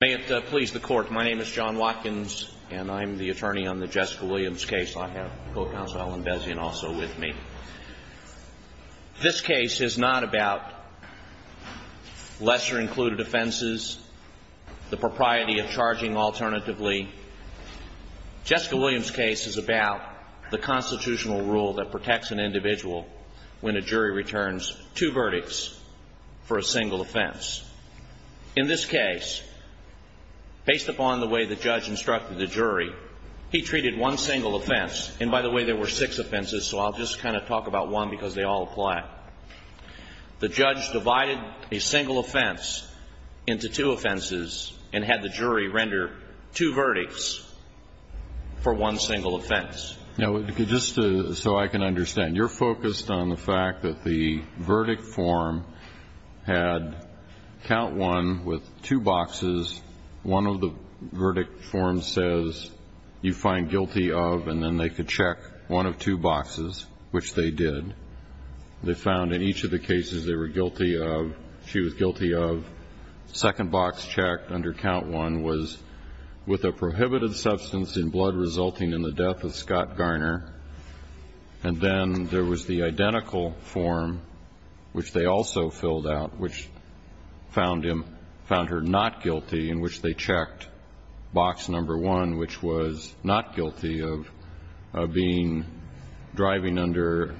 May it please the court. My name is John Watkins and I'm the attorney on the Jessica Williams case. I have Co-Counsel Alan Bezian also with me. This case is not about lesser included offenses, the propriety of charging alternatively. Jessica Williams case is about the constitutional rule that protects an individual when a jury returns two verdicts for a single offense. In this case, based upon the way the judge instructed the jury, he treated one single offense. And by the way, there were six offenses, so I'll just kind of talk about one because they all apply. The judge divided a single offense into two offenses and had the jury render two verdicts for one single offense. Now, just so I can understand, you're focused on the fact that the verdict form had count one with two boxes. One of the verdict forms says you find guilty of, and then they could check one of two boxes, which they did. They found in each of the cases they were guilty of, she was guilty of, second box checked under count one was with a prohibited substance in blood resulting in the death of Scott Garner. And then there was the identical form, which they also filled out, which found her not guilty, in which they checked box number one, which was not guilty of being driving under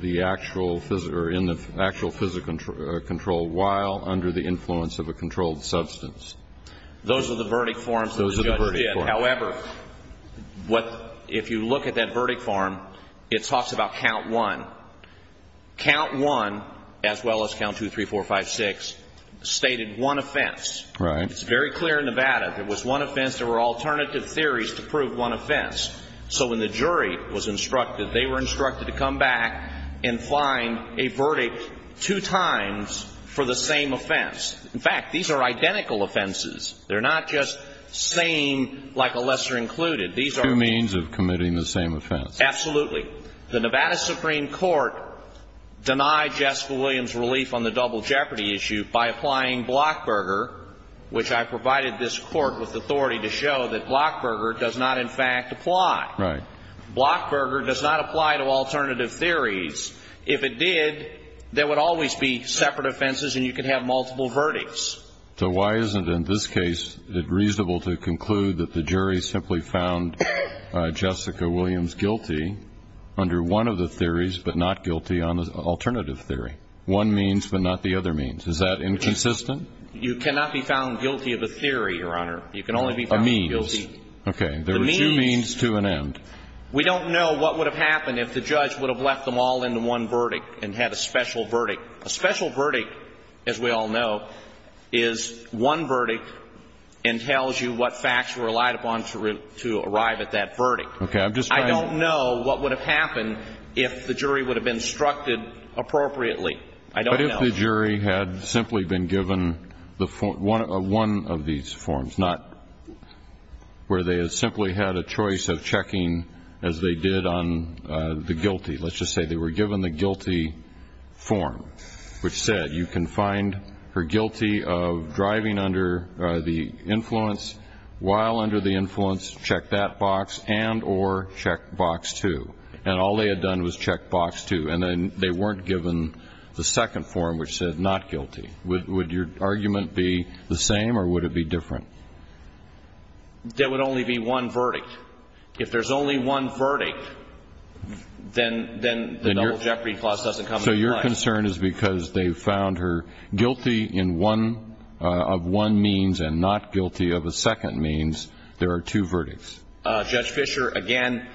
the actual physical control while under the influence of a controlled substance. Those are the verdict forms the judge did. However, if you look at that verdict form, it talks about count one. Count one, as well as count two, three, four, five, six, stated one offense. It's very clear in Nevada, if it was one offense, there were alternative theories to prove one offense. So when the jury was instructed, they were instructed to come back and find a verdict two times for the same offense. In fact, these are identical offenses. They're not just same, like a lesser included. These are... Two means of committing the same offense. Absolutely. The Nevada Supreme Court denied Jessica Williams relief on the double jeopardy issue by applying Blockberger, which I provided this Court with authority to show that Blockberger does not, in fact, apply. Right. Blockberger does not apply to alternative theories. If it did, there would always be separate offenses, and you could have multiple verdicts. So why isn't, in this case, it reasonable to conclude that the jury simply found Jessica Williams guilty under one of the theories, but not guilty on the alternative theory? One means, but not the other means. Is that inconsistent? You cannot be found guilty of a theory, Your Honor. You can only be found guilty... A means. Okay. The means... There were two means to an end. We don't know what would have happened if the judge would have left them all into one verdict and had a special verdict. A special verdict, as we all know, is one verdict and tells you what facts were relied upon to arrive at that verdict. Okay. I'm just trying to... I don't know what would have happened if the jury would have instructed appropriately. I don't know. If the jury had simply been given one of these forms, not where they had simply had a choice of checking as they did on the guilty. Let's just say they were given the guilty form, which said you can find her guilty of driving under the influence, while under the influence, check that box and or check box two. And all they had done was check box two. And they weren't given the second form, which said not guilty. Would your argument be the same or would it be different? There would only be one verdict. If there's only one verdict, then the double jeopardy clause doesn't come into play. So your concern is because they found her guilty of one means and not guilty of a second means, there are two verdicts. Judge Fisher, again,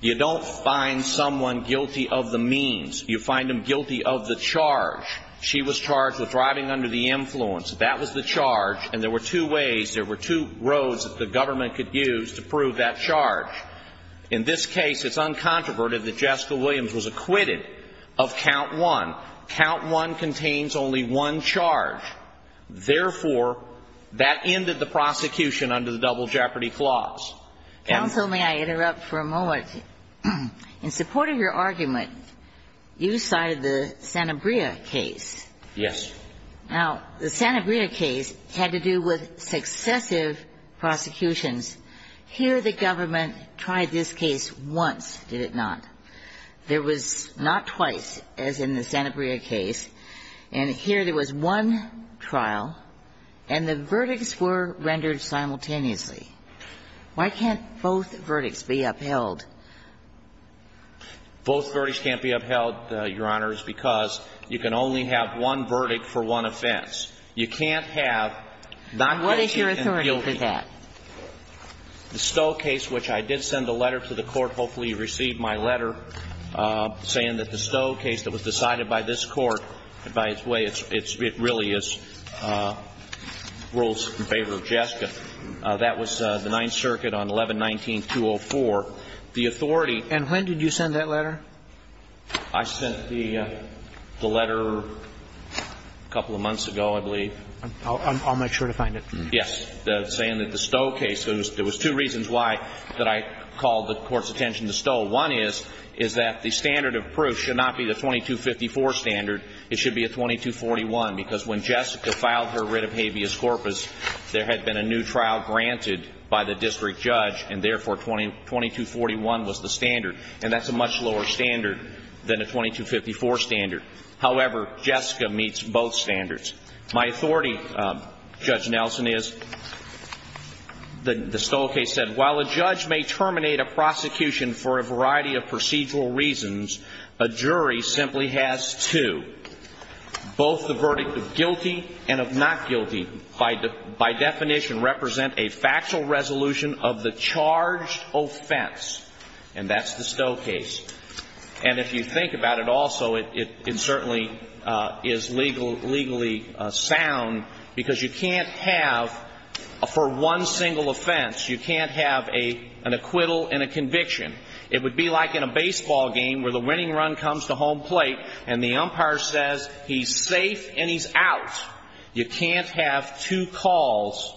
you don't find someone guilty of the means. You find them guilty of the charge. She was charged with driving under the influence. That was the charge. And there were two ways, there were two roads that the government could use to prove that charge. In this case, it's uncontroverted that Jessica Williams was acquitted of count one. Count one contains only one charge. Therefore, that ended the prosecution under the double jeopardy clause. Counsel, may I interrupt for a moment? In support of your argument, you cited the Sanabria case. Yes. Now, the Sanabria case had to do with successive prosecutions. Here the government tried this case once, did it not? There was not twice, as in the Sanabria case. And here there was one trial, and the verdicts were rendered simultaneously. Why can't both verdicts be upheld? Both verdicts can't be upheld, Your Honor, because you can only have one verdict for one offense. You can't have not guilty and guilty. What is your authority to that? The Stowe case, which I did send a letter to the Court, hopefully you received my letter, saying that the Stowe case that was decided by this Court, by its way, it really is rules in favor of Jessica. That was the Ninth Circuit on 11-19-204. The authority And when did you send that letter? I sent the letter a couple of months ago, I believe. I'll make sure to find it. Yes. Saying that the Stowe case, there was two reasons why that I called the Court's attention to Stowe. One is, is that the standard of proof should not be the 2254 standard. It should be a 2241, because when Jessica filed her writ of habeas corpus, there had been a new trial granted by the district judge, and therefore 2241 was the standard. And that's a much lower standard than a 2254 standard. However, Jessica meets both standards. My authority, Judge Nelson, is the Stowe case said, While a judge may terminate a prosecution for a variety of procedural reasons, a jury simply has two. Both the verdict of guilty and of not guilty, by definition, represent a factual resolution of the charged offense. And that's the Stowe case. And if you think about it also, it certainly is legally sound, because you can't have, for one single offense, you can't have an acquittal and a conviction. It would be like in a baseball game where the winning run comes to home plate and the umpire says he's safe and he's out. You can't have two calls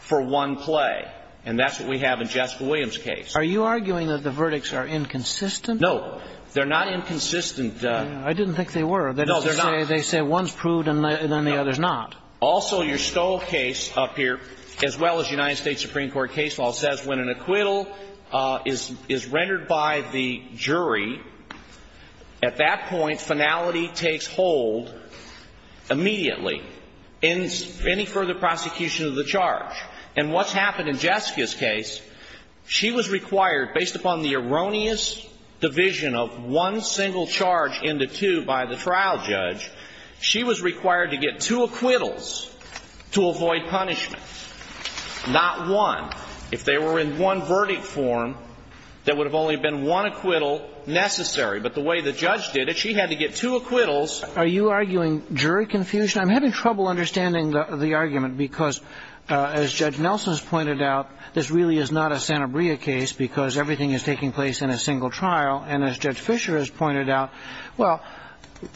for one play. And that's what we have in Jessica Williams' case. Are you arguing that the verdicts are inconsistent? No, they're not inconsistent. I didn't think they were. No, they're not. They say one's proved and then the other's not. Also, your Stowe case up here, as well as United States Supreme Court case law, says when an acquittal is rendered by the jury, at that point, finality takes hold immediately. Any further prosecution of the charge. And what's happened in Jessica's case, she was required, based upon the erroneous division of one single charge into two by the trial judge, she was required to get two acquittals to avoid punishment. Not one. If they were in one verdict form, there would have only been one acquittal necessary. But the way the judge did it, she had to get two acquittals. Are you arguing jury confusion? I'm having trouble understanding the argument because, as Judge Nelson has pointed out, this really is not a Santabria case because everything is taking place in a single trial. And as Judge Fisher has pointed out, well,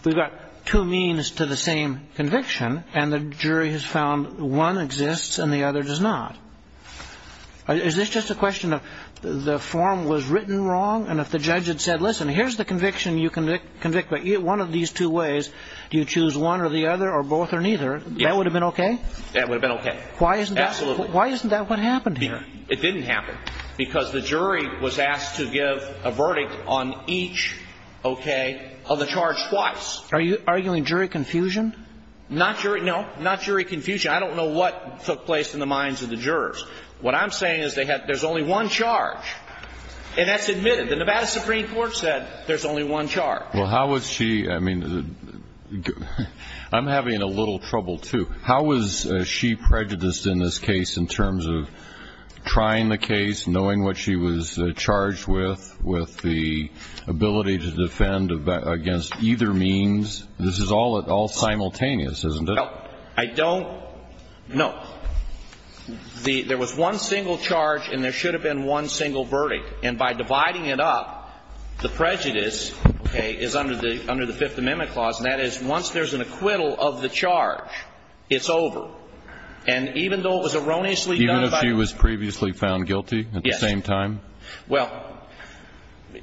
we've got two means to the same conviction. And the jury has found one exists and the other does not. Is this just a question of the form was written wrong? And if the judge had said, listen, here's the conviction you can convict by one of these two ways, do you choose one or the other or both or neither, that would have been okay? That would have been okay. Absolutely. Why isn't that what happened here? It didn't happen because the jury was asked to give a verdict on each, okay, of the charge twice. Are you arguing jury confusion? Not jury, no, not jury confusion. I don't know what took place in the minds of the jurors. What I'm saying is there's only one charge, and that's admitted. The Nevada Supreme Court said there's only one charge. Well, how was she, I mean, I'm having a little trouble, too. How was she prejudiced in this case in terms of trying the case, knowing what she was charged with, with the ability to defend against either means? This is all simultaneous, isn't it? Well, I don't know. There was one single charge, and there should have been one single verdict. And by dividing it up, the prejudice, okay, is under the Fifth Amendment clause. And that is once there's an acquittal of the charge, it's over. And even though it was erroneously done by the jury. Even if she was previously found guilty at the same time? Yes. Well,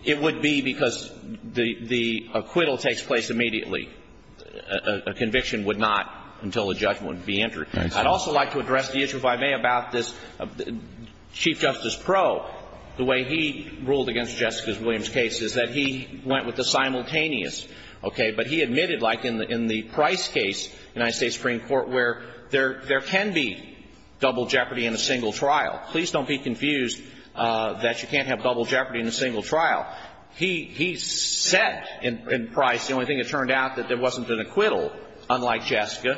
it would be because the acquittal takes place immediately. A conviction would not until a judgment would be entered. Right. I'd also like to address the issue, if I may, about this. Chief Justice Proe, the way he ruled against Jessica Williams' case is that he went with the simultaneous, okay? But he admitted, like in the Price case, United States Supreme Court, where there can be double jeopardy in a single trial. Please don't be confused that you can't have double jeopardy in a single trial. He said in Price, the only thing that turned out, that there wasn't an acquittal, unlike Jessica.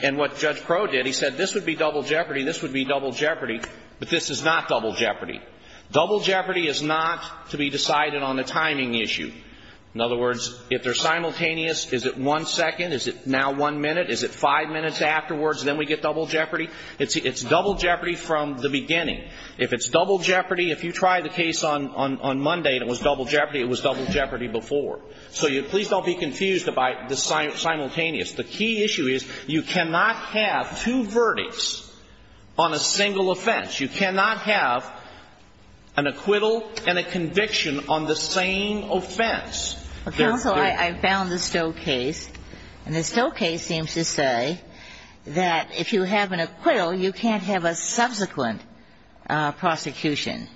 And what Judge Proe did, he said, this would be double jeopardy, this would be double jeopardy. But this is not double jeopardy. Double jeopardy is not to be decided on a timing issue. In other words, if they're simultaneous, is it one second? Is it now one minute? Is it five minutes afterwards, and then we get double jeopardy? It's double jeopardy from the beginning. If it's double jeopardy, if you try the case on Monday and it was double jeopardy, it was double jeopardy before. So please don't be confused by the simultaneous. The key issue is you cannot have two verdicts on a single offense. You cannot have an acquittal and a conviction on the same offense. Counsel, I found the Stowe case, and the Stowe case seems to say that if you have an acquittal, you can't have a subsequent prosecution.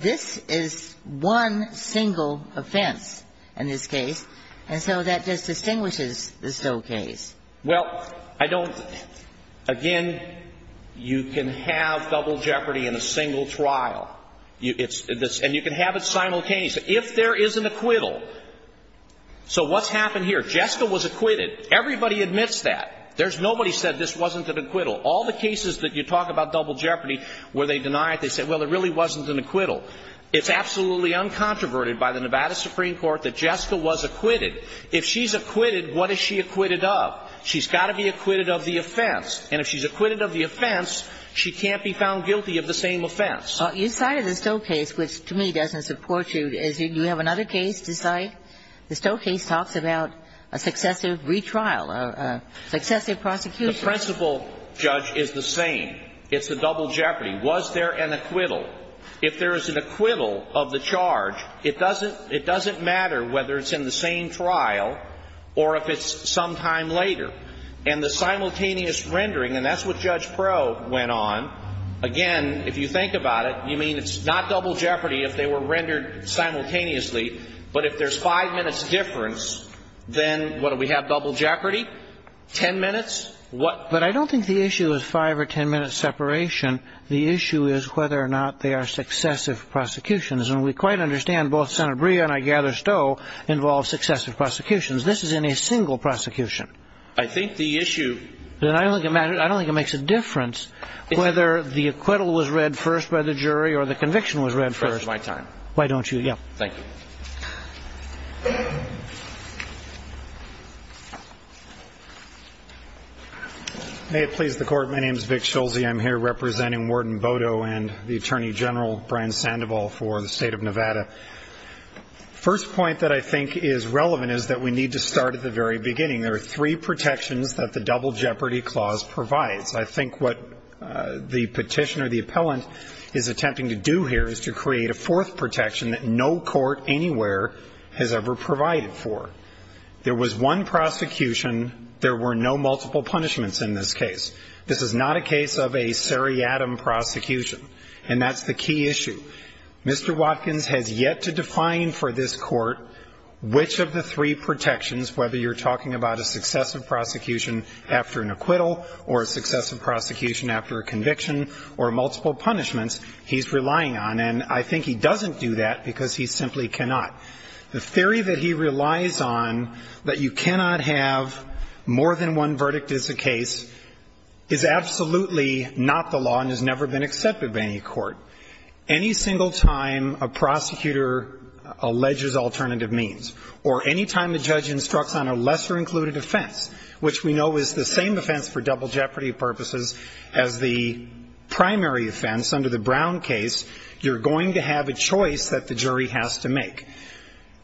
This is one single offense in this case. And so that just distinguishes the Stowe case. Well, I don't, again, you can have double jeopardy in a single trial. And you can have it simultaneous. If there is an acquittal, so what's happened here? Jessica was acquitted. Everybody admits that. There's nobody said this wasn't an acquittal. All the cases that you talk about double jeopardy where they deny it, they say, well, it really wasn't an acquittal. It's absolutely uncontroverted by the Nevada Supreme Court that Jessica was acquitted. If she's acquitted, what is she acquitted of? She's got to be acquitted of the offense. And if she's acquitted of the offense, she can't be found guilty of the same offense. Your side of the Stowe case, which to me doesn't support you, is you have another case to cite. The Stowe case talks about a successive retrial, a successive prosecution. The principal judge is the same. It's a double jeopardy. Was there an acquittal? If there is an acquittal of the charge, it doesn't matter whether it's in the same trial or if it's sometime later. And the simultaneous rendering, and that's what Judge Proh went on, again, if you think about it, you mean it's not double jeopardy if they were rendered simultaneously, but if there's five minutes difference, then what, do we have double jeopardy? Ten minutes? What? But I don't think the issue is five or ten minutes separation. The issue is whether or not they are successive prosecutions. And we quite understand both Senator Brea and I gather Stowe involve successive prosecutions. This is in a single prosecution. I think the issue — Then I don't think it matters. I don't think it makes a difference whether the acquittal was read first by the jury or the conviction was read first. It's my time. Why don't you — yeah. Thank you. May it please the Court. My name is Vic Schulze. I'm here representing Warden Bodo and the Attorney General Brian Sandoval for the State of Nevada. First point that I think is relevant is that we need to start at the very beginning. There are three protections that the double jeopardy clause provides. I think what the petitioner, the appellant, is attempting to do here is to create a fourth protection that no court anywhere has ever provided for. There was one prosecution. There were no multiple punishments in this case. This is not a case of a seriatim prosecution. And that's the key issue. Mr. Watkins has yet to define for this court which of the three protections, whether you're talking about a successive prosecution after an acquittal or a successive prosecution after a conviction or multiple punishments, he's relying on, and I think he doesn't do that because he simply cannot. The theory that he relies on, that you cannot have more than one verdict as a case, is absolutely not the law and has never been accepted by any court. Any single time a prosecutor alleges alternative means or any time a judge instructs on a lesser included offense, which we know is the same offense for double jeopardy purposes as the primary offense under the Brown case, you're going to have a choice that the jury has to make.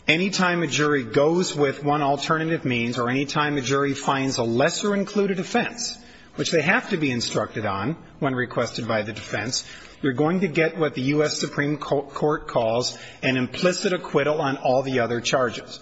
Any time a jury goes with one alternative means or any time a jury finds a lesser included offense, which they have to be instructed on when requested by the defense, you're going to get what the U.S. Supreme Court calls an implicit acquittal on all the other charges.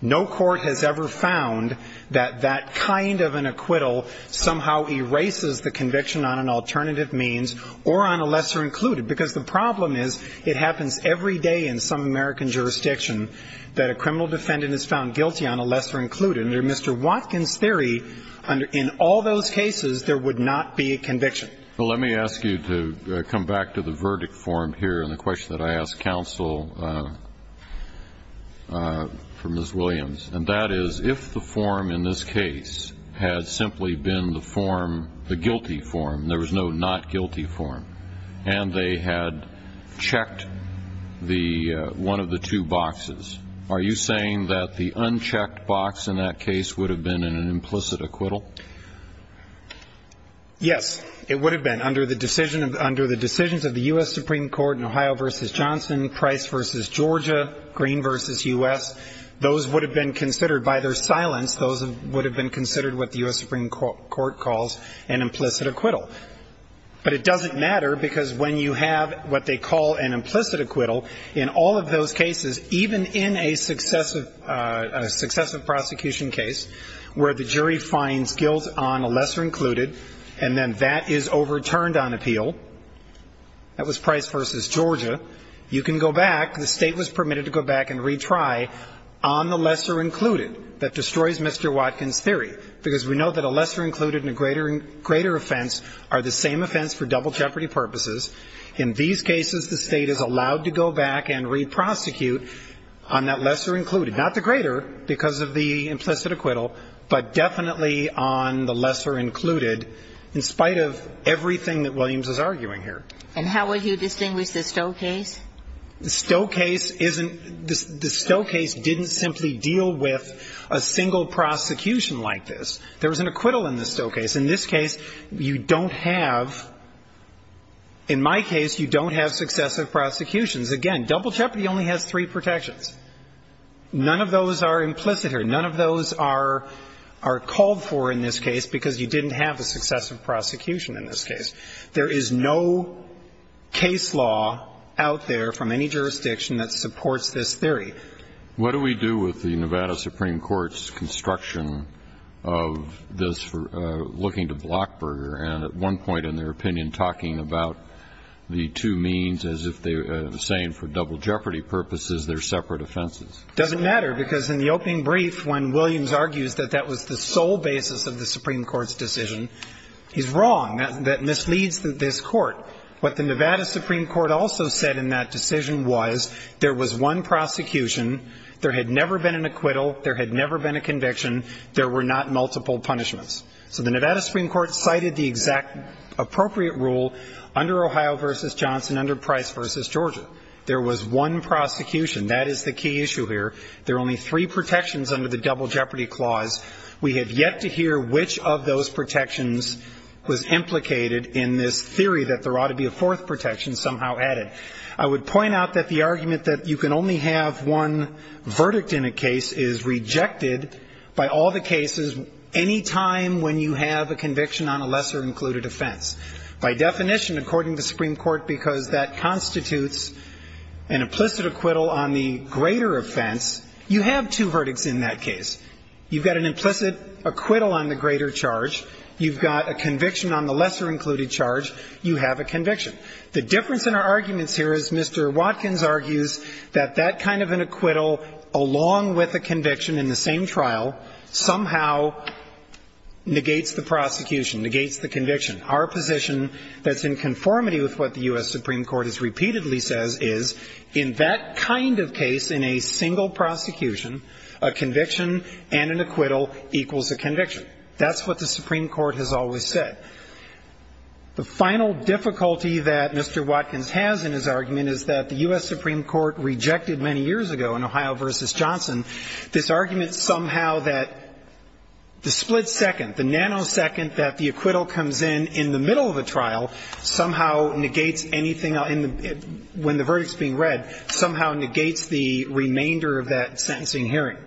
No court has ever found that that kind of an acquittal somehow erases the conviction on an alternative means or on a lesser included, because the problem is it happens every day in some American jurisdiction that a criminal defendant is found guilty on a lesser included. Under Mr. Watkins' theory, in all those cases, there would not be a conviction. Well, let me ask you to come back to the verdict form here and the question that I asked counsel for Ms. Williams, and that is, if the form in this case had simply been the form, the guilty form, there was no not guilty form, and they had checked the one of the two boxes, are you saying that the unchecked box in that case would have been an implicit acquittal? Yes, it would have been. Under the decisions of the U.S. Supreme Court in Ohio v. Johnson, Price v. Georgia, Green v. U.S., those would have been considered by their silence, those would have been considered what the U.S. Supreme Court calls an implicit acquittal. But it doesn't matter, because when you have what they call an implicit acquittal, in all of those cases, even in a successive prosecution case where the jury finds appeals on a lesser included, and then that is overturned on appeal, that was Price v. Georgia, you can go back, the State was permitted to go back and retry on the lesser included. That destroys Mr. Watkins' theory, because we know that a lesser included and a greater offense are the same offense for double jeopardy purposes. In these cases, the State is allowed to go back and re-prosecute on that lesser included, not the greater, because of the implicit acquittal, but definitely on the lesser included, in spite of everything that Williams is arguing here. And how would you distinguish the Stowe case? The Stowe case isn't the Stowe case didn't simply deal with a single prosecution like this. There was an acquittal in the Stowe case. In this case, you don't have, in my case, you don't have successive prosecutions. Again, double jeopardy only has three protections. None of those are implicit here. None of those are called for in this case because you didn't have a successive prosecution in this case. There is no case law out there from any jurisdiction that supports this theory. What do we do with the Nevada Supreme Court's construction of this looking to Blockburger and at one point in their opinion talking about the two means as if they were saying for double jeopardy purposes, they're separate offenses? It doesn't matter because in the opening brief, when Williams argues that that was the sole basis of the Supreme Court's decision, he's wrong. That misleads this Court. What the Nevada Supreme Court also said in that decision was there was one prosecution, there had never been an acquittal, there had never been a conviction, there were not multiple punishments. So the Nevada Supreme Court cited the exact appropriate rule under Ohio v. Johnson, under Price v. Georgia. There was one prosecution. That is the key issue here. There are only three protections under the double jeopardy clause. We have yet to hear which of those protections was implicated in this theory that there ought to be a fourth protection somehow added. I would point out that the argument that you can only have one verdict in a case is the same when you have a conviction on a lesser included offense. By definition, according to the Supreme Court, because that constitutes an implicit acquittal on the greater offense, you have two verdicts in that case. You've got an implicit acquittal on the greater charge. You've got a conviction on the lesser included charge. You have a conviction. The difference in our arguments here is Mr. Watkins argues that that kind of an acquittal with a conviction in the same trial somehow negates the prosecution, negates the conviction. Our position that's in conformity with what the U.S. Supreme Court has repeatedly says is in that kind of case in a single prosecution, a conviction and an acquittal equals a conviction. That's what the Supreme Court has always said. The final difficulty that Mr. Watkins has in his argument is that the U.S. Supreme Court in Ohio v. Johnson, this argument somehow that the split second, the nanosecond that the acquittal comes in in the middle of the trial somehow negates anything when the verdict's being read, somehow negates the remainder of that sentencing hearing.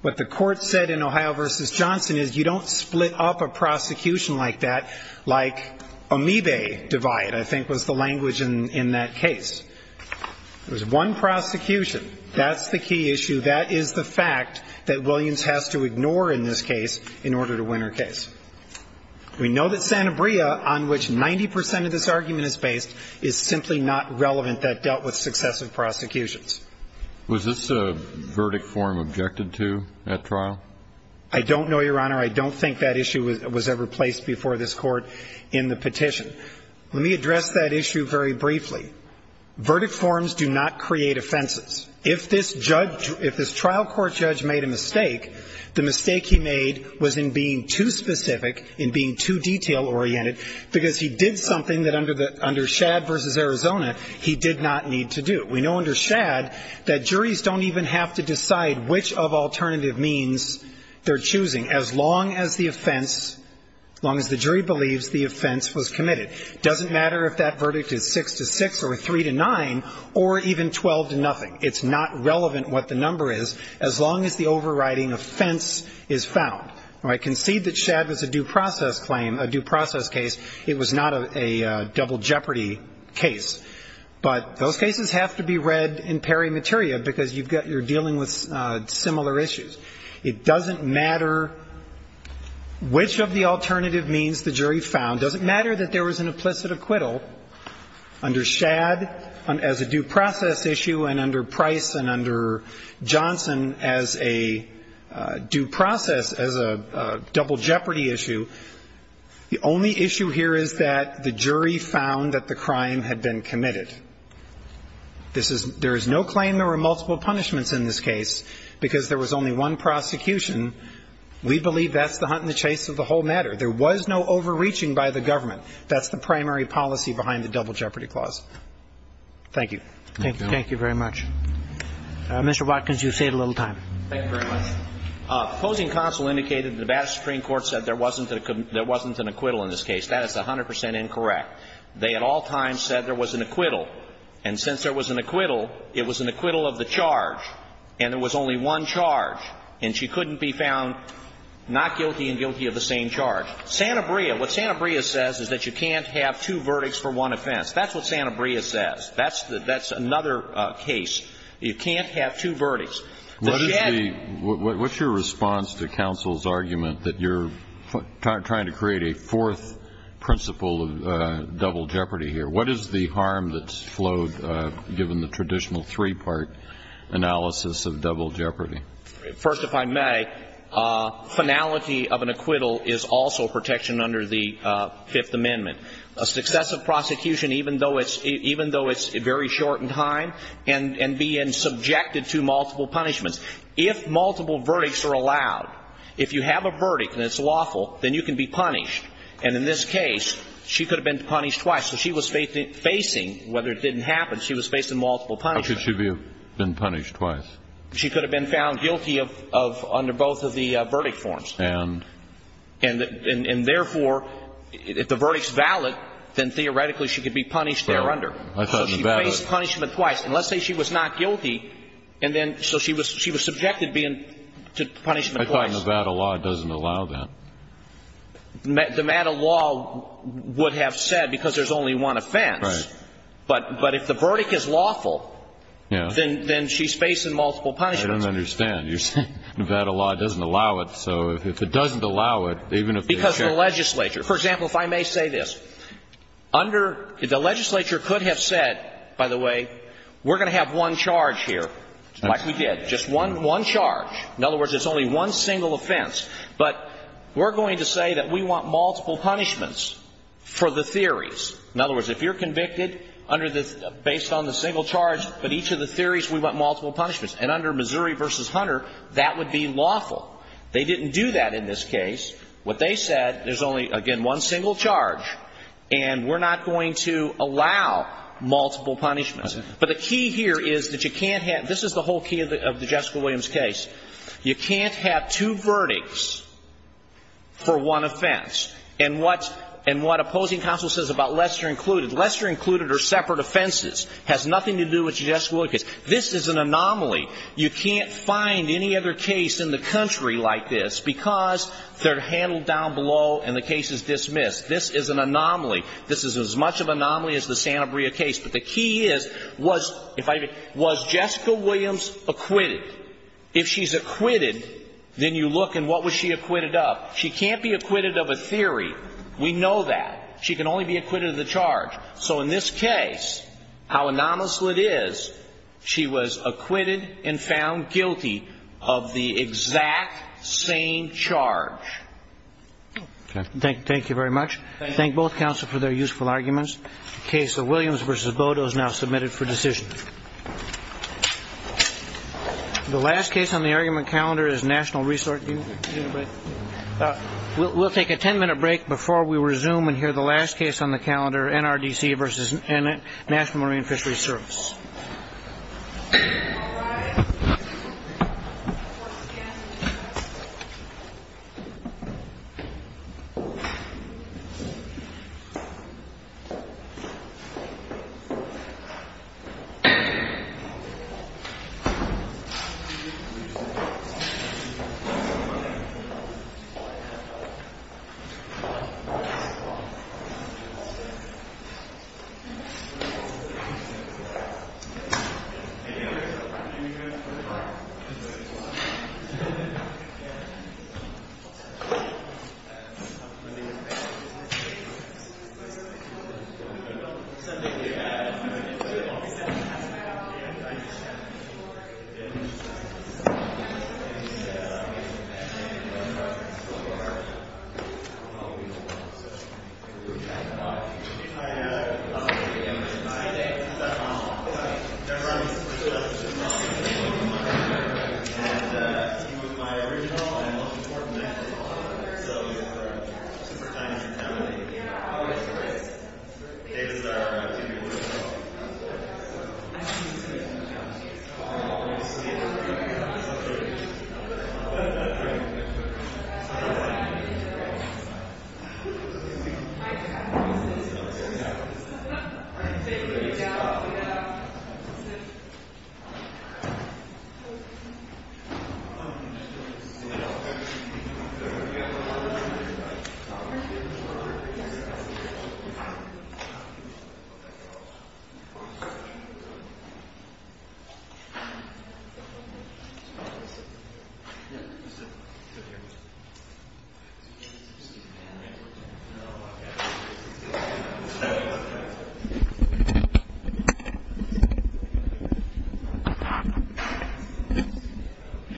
What the court said in Ohio v. Johnson is you don't split up a prosecution like that like amoebae divide, I think, was the language in that case. It was one prosecution. That's the key issue. That is the fact that Williams has to ignore in this case in order to win her case. We know that Sanabria, on which 90 percent of this argument is based, is simply not relevant that dealt with successive prosecutions. Was this a verdict form objected to at trial? I don't know, Your Honor. I don't think that issue was ever placed before this Court in the petition. Let me address that issue very briefly. Verdict forms do not create offenses. If this trial court judge made a mistake, the mistake he made was in being too specific, in being too detail-oriented, because he did something that under Shad v. Arizona he did not need to do. We know under Shad that juries don't even have to decide which of alternative means they're choosing as long as the offense, as long as the jury believes the offense was committed. It doesn't matter if that verdict is 6-6 or 3-9 or even 12-0. It's not relevant what the number is as long as the overriding offense is found. I concede that Shad was a due process claim, a due process case. It was not a double jeopardy case. But those cases have to be read in peri materia because you're dealing with similar issues. It doesn't matter which of the alternative means the jury found. It doesn't matter that there was an implicit acquittal under Shad as a due process issue and under Price and under Johnson as a due process, as a double jeopardy issue. The only issue here is that the jury found that the crime had been committed. There is no claim there were multiple punishments in this case because there was only one prosecution. We believe that's the hunt and the chase of the whole matter. There was no overreaching by the government. That's the primary policy behind the double jeopardy clause. Thank you. Thank you. Thank you very much. Mr. Watkins, you've saved a little time. Thank you very much. Opposing counsel indicated the Nevada Supreme Court said there wasn't an acquittal in this case. That is 100 percent incorrect. They at all times said there was an acquittal. And since there was an acquittal, it was an acquittal of the charge. And there was only one charge. And she couldn't be found not guilty and guilty of the same charge. Santabria, what Santabria says is that you can't have two verdicts for one offense. That's what Santabria says. That's another case. You can't have two verdicts. What's your response to counsel's argument that you're trying to create a fourth principle of double jeopardy here? What is the harm that's flowed given the traditional three-part analysis of double jeopardy? First, if I may, finality of an acquittal is also protection under the Fifth Amendment. A successive prosecution, even though it's very short in time, and being subjected to multiple punishments, if multiple verdicts are allowed, if you have a verdict and it's lawful, then you can be punished. And in this case, she could have been punished twice. So she was facing, whether it didn't happen, she was facing multiple punishments. How could she have been punished twice? She could have been found guilty under both of the verdict forms. And? And therefore, if the verdict's valid, then theoretically she could be punished there under. So she faced punishment twice. And let's say she was not guilty, and then so she was subjected to punishment twice. I thought Nevada law doesn't allow that. Nevada law would have said because there's only one offense. Right. But if the verdict is lawful, then she's facing multiple punishments. I don't understand. You're saying Nevada law doesn't allow it. So if it doesn't allow it, even if they check it. Because the legislature. For example, if I may say this, under the legislature could have said, by the way, we're going to have one charge here, like we did, just one charge. In other words, there's only one single offense. But we're going to say that we want multiple punishments for the theories. In other words, if you're convicted based on the single charge, but each of the theories, we want multiple punishments. And under Missouri v. Hunter, that would be lawful. They didn't do that in this case. What they said, there's only, again, one single charge. And we're not going to allow multiple punishments. But the key here is that you can't have this is the whole key of the Jessica Williams case. You can't have two verdicts for one offense. And what opposing counsel says about Lester included. Lester included are separate offenses. It has nothing to do with the Jessica Williams case. This is an anomaly. You can't find any other case in the country like this because they're handled down below and the case is dismissed. This is an anomaly. This is as much of an anomaly as the Santa Maria case. But the key is, was Jessica Williams acquitted? If she's acquitted, then you look and what was she acquitted of? She can't be acquitted of a theory. We know that. She can only be acquitted of the charge. So in this case, how anomalous it is, she was acquitted and found guilty of the exact same charge. Okay. Thank you very much. Thank both counsel for their useful arguments. The case of Williams v. Bodo is now submitted for decision. The last case on the argument calendar is National Resort. We'll take a ten-minute break before we resume and hear the last case on the calendar, NRDC v. National Marine Fisheries Service. Thank you. Thank you. Thank you.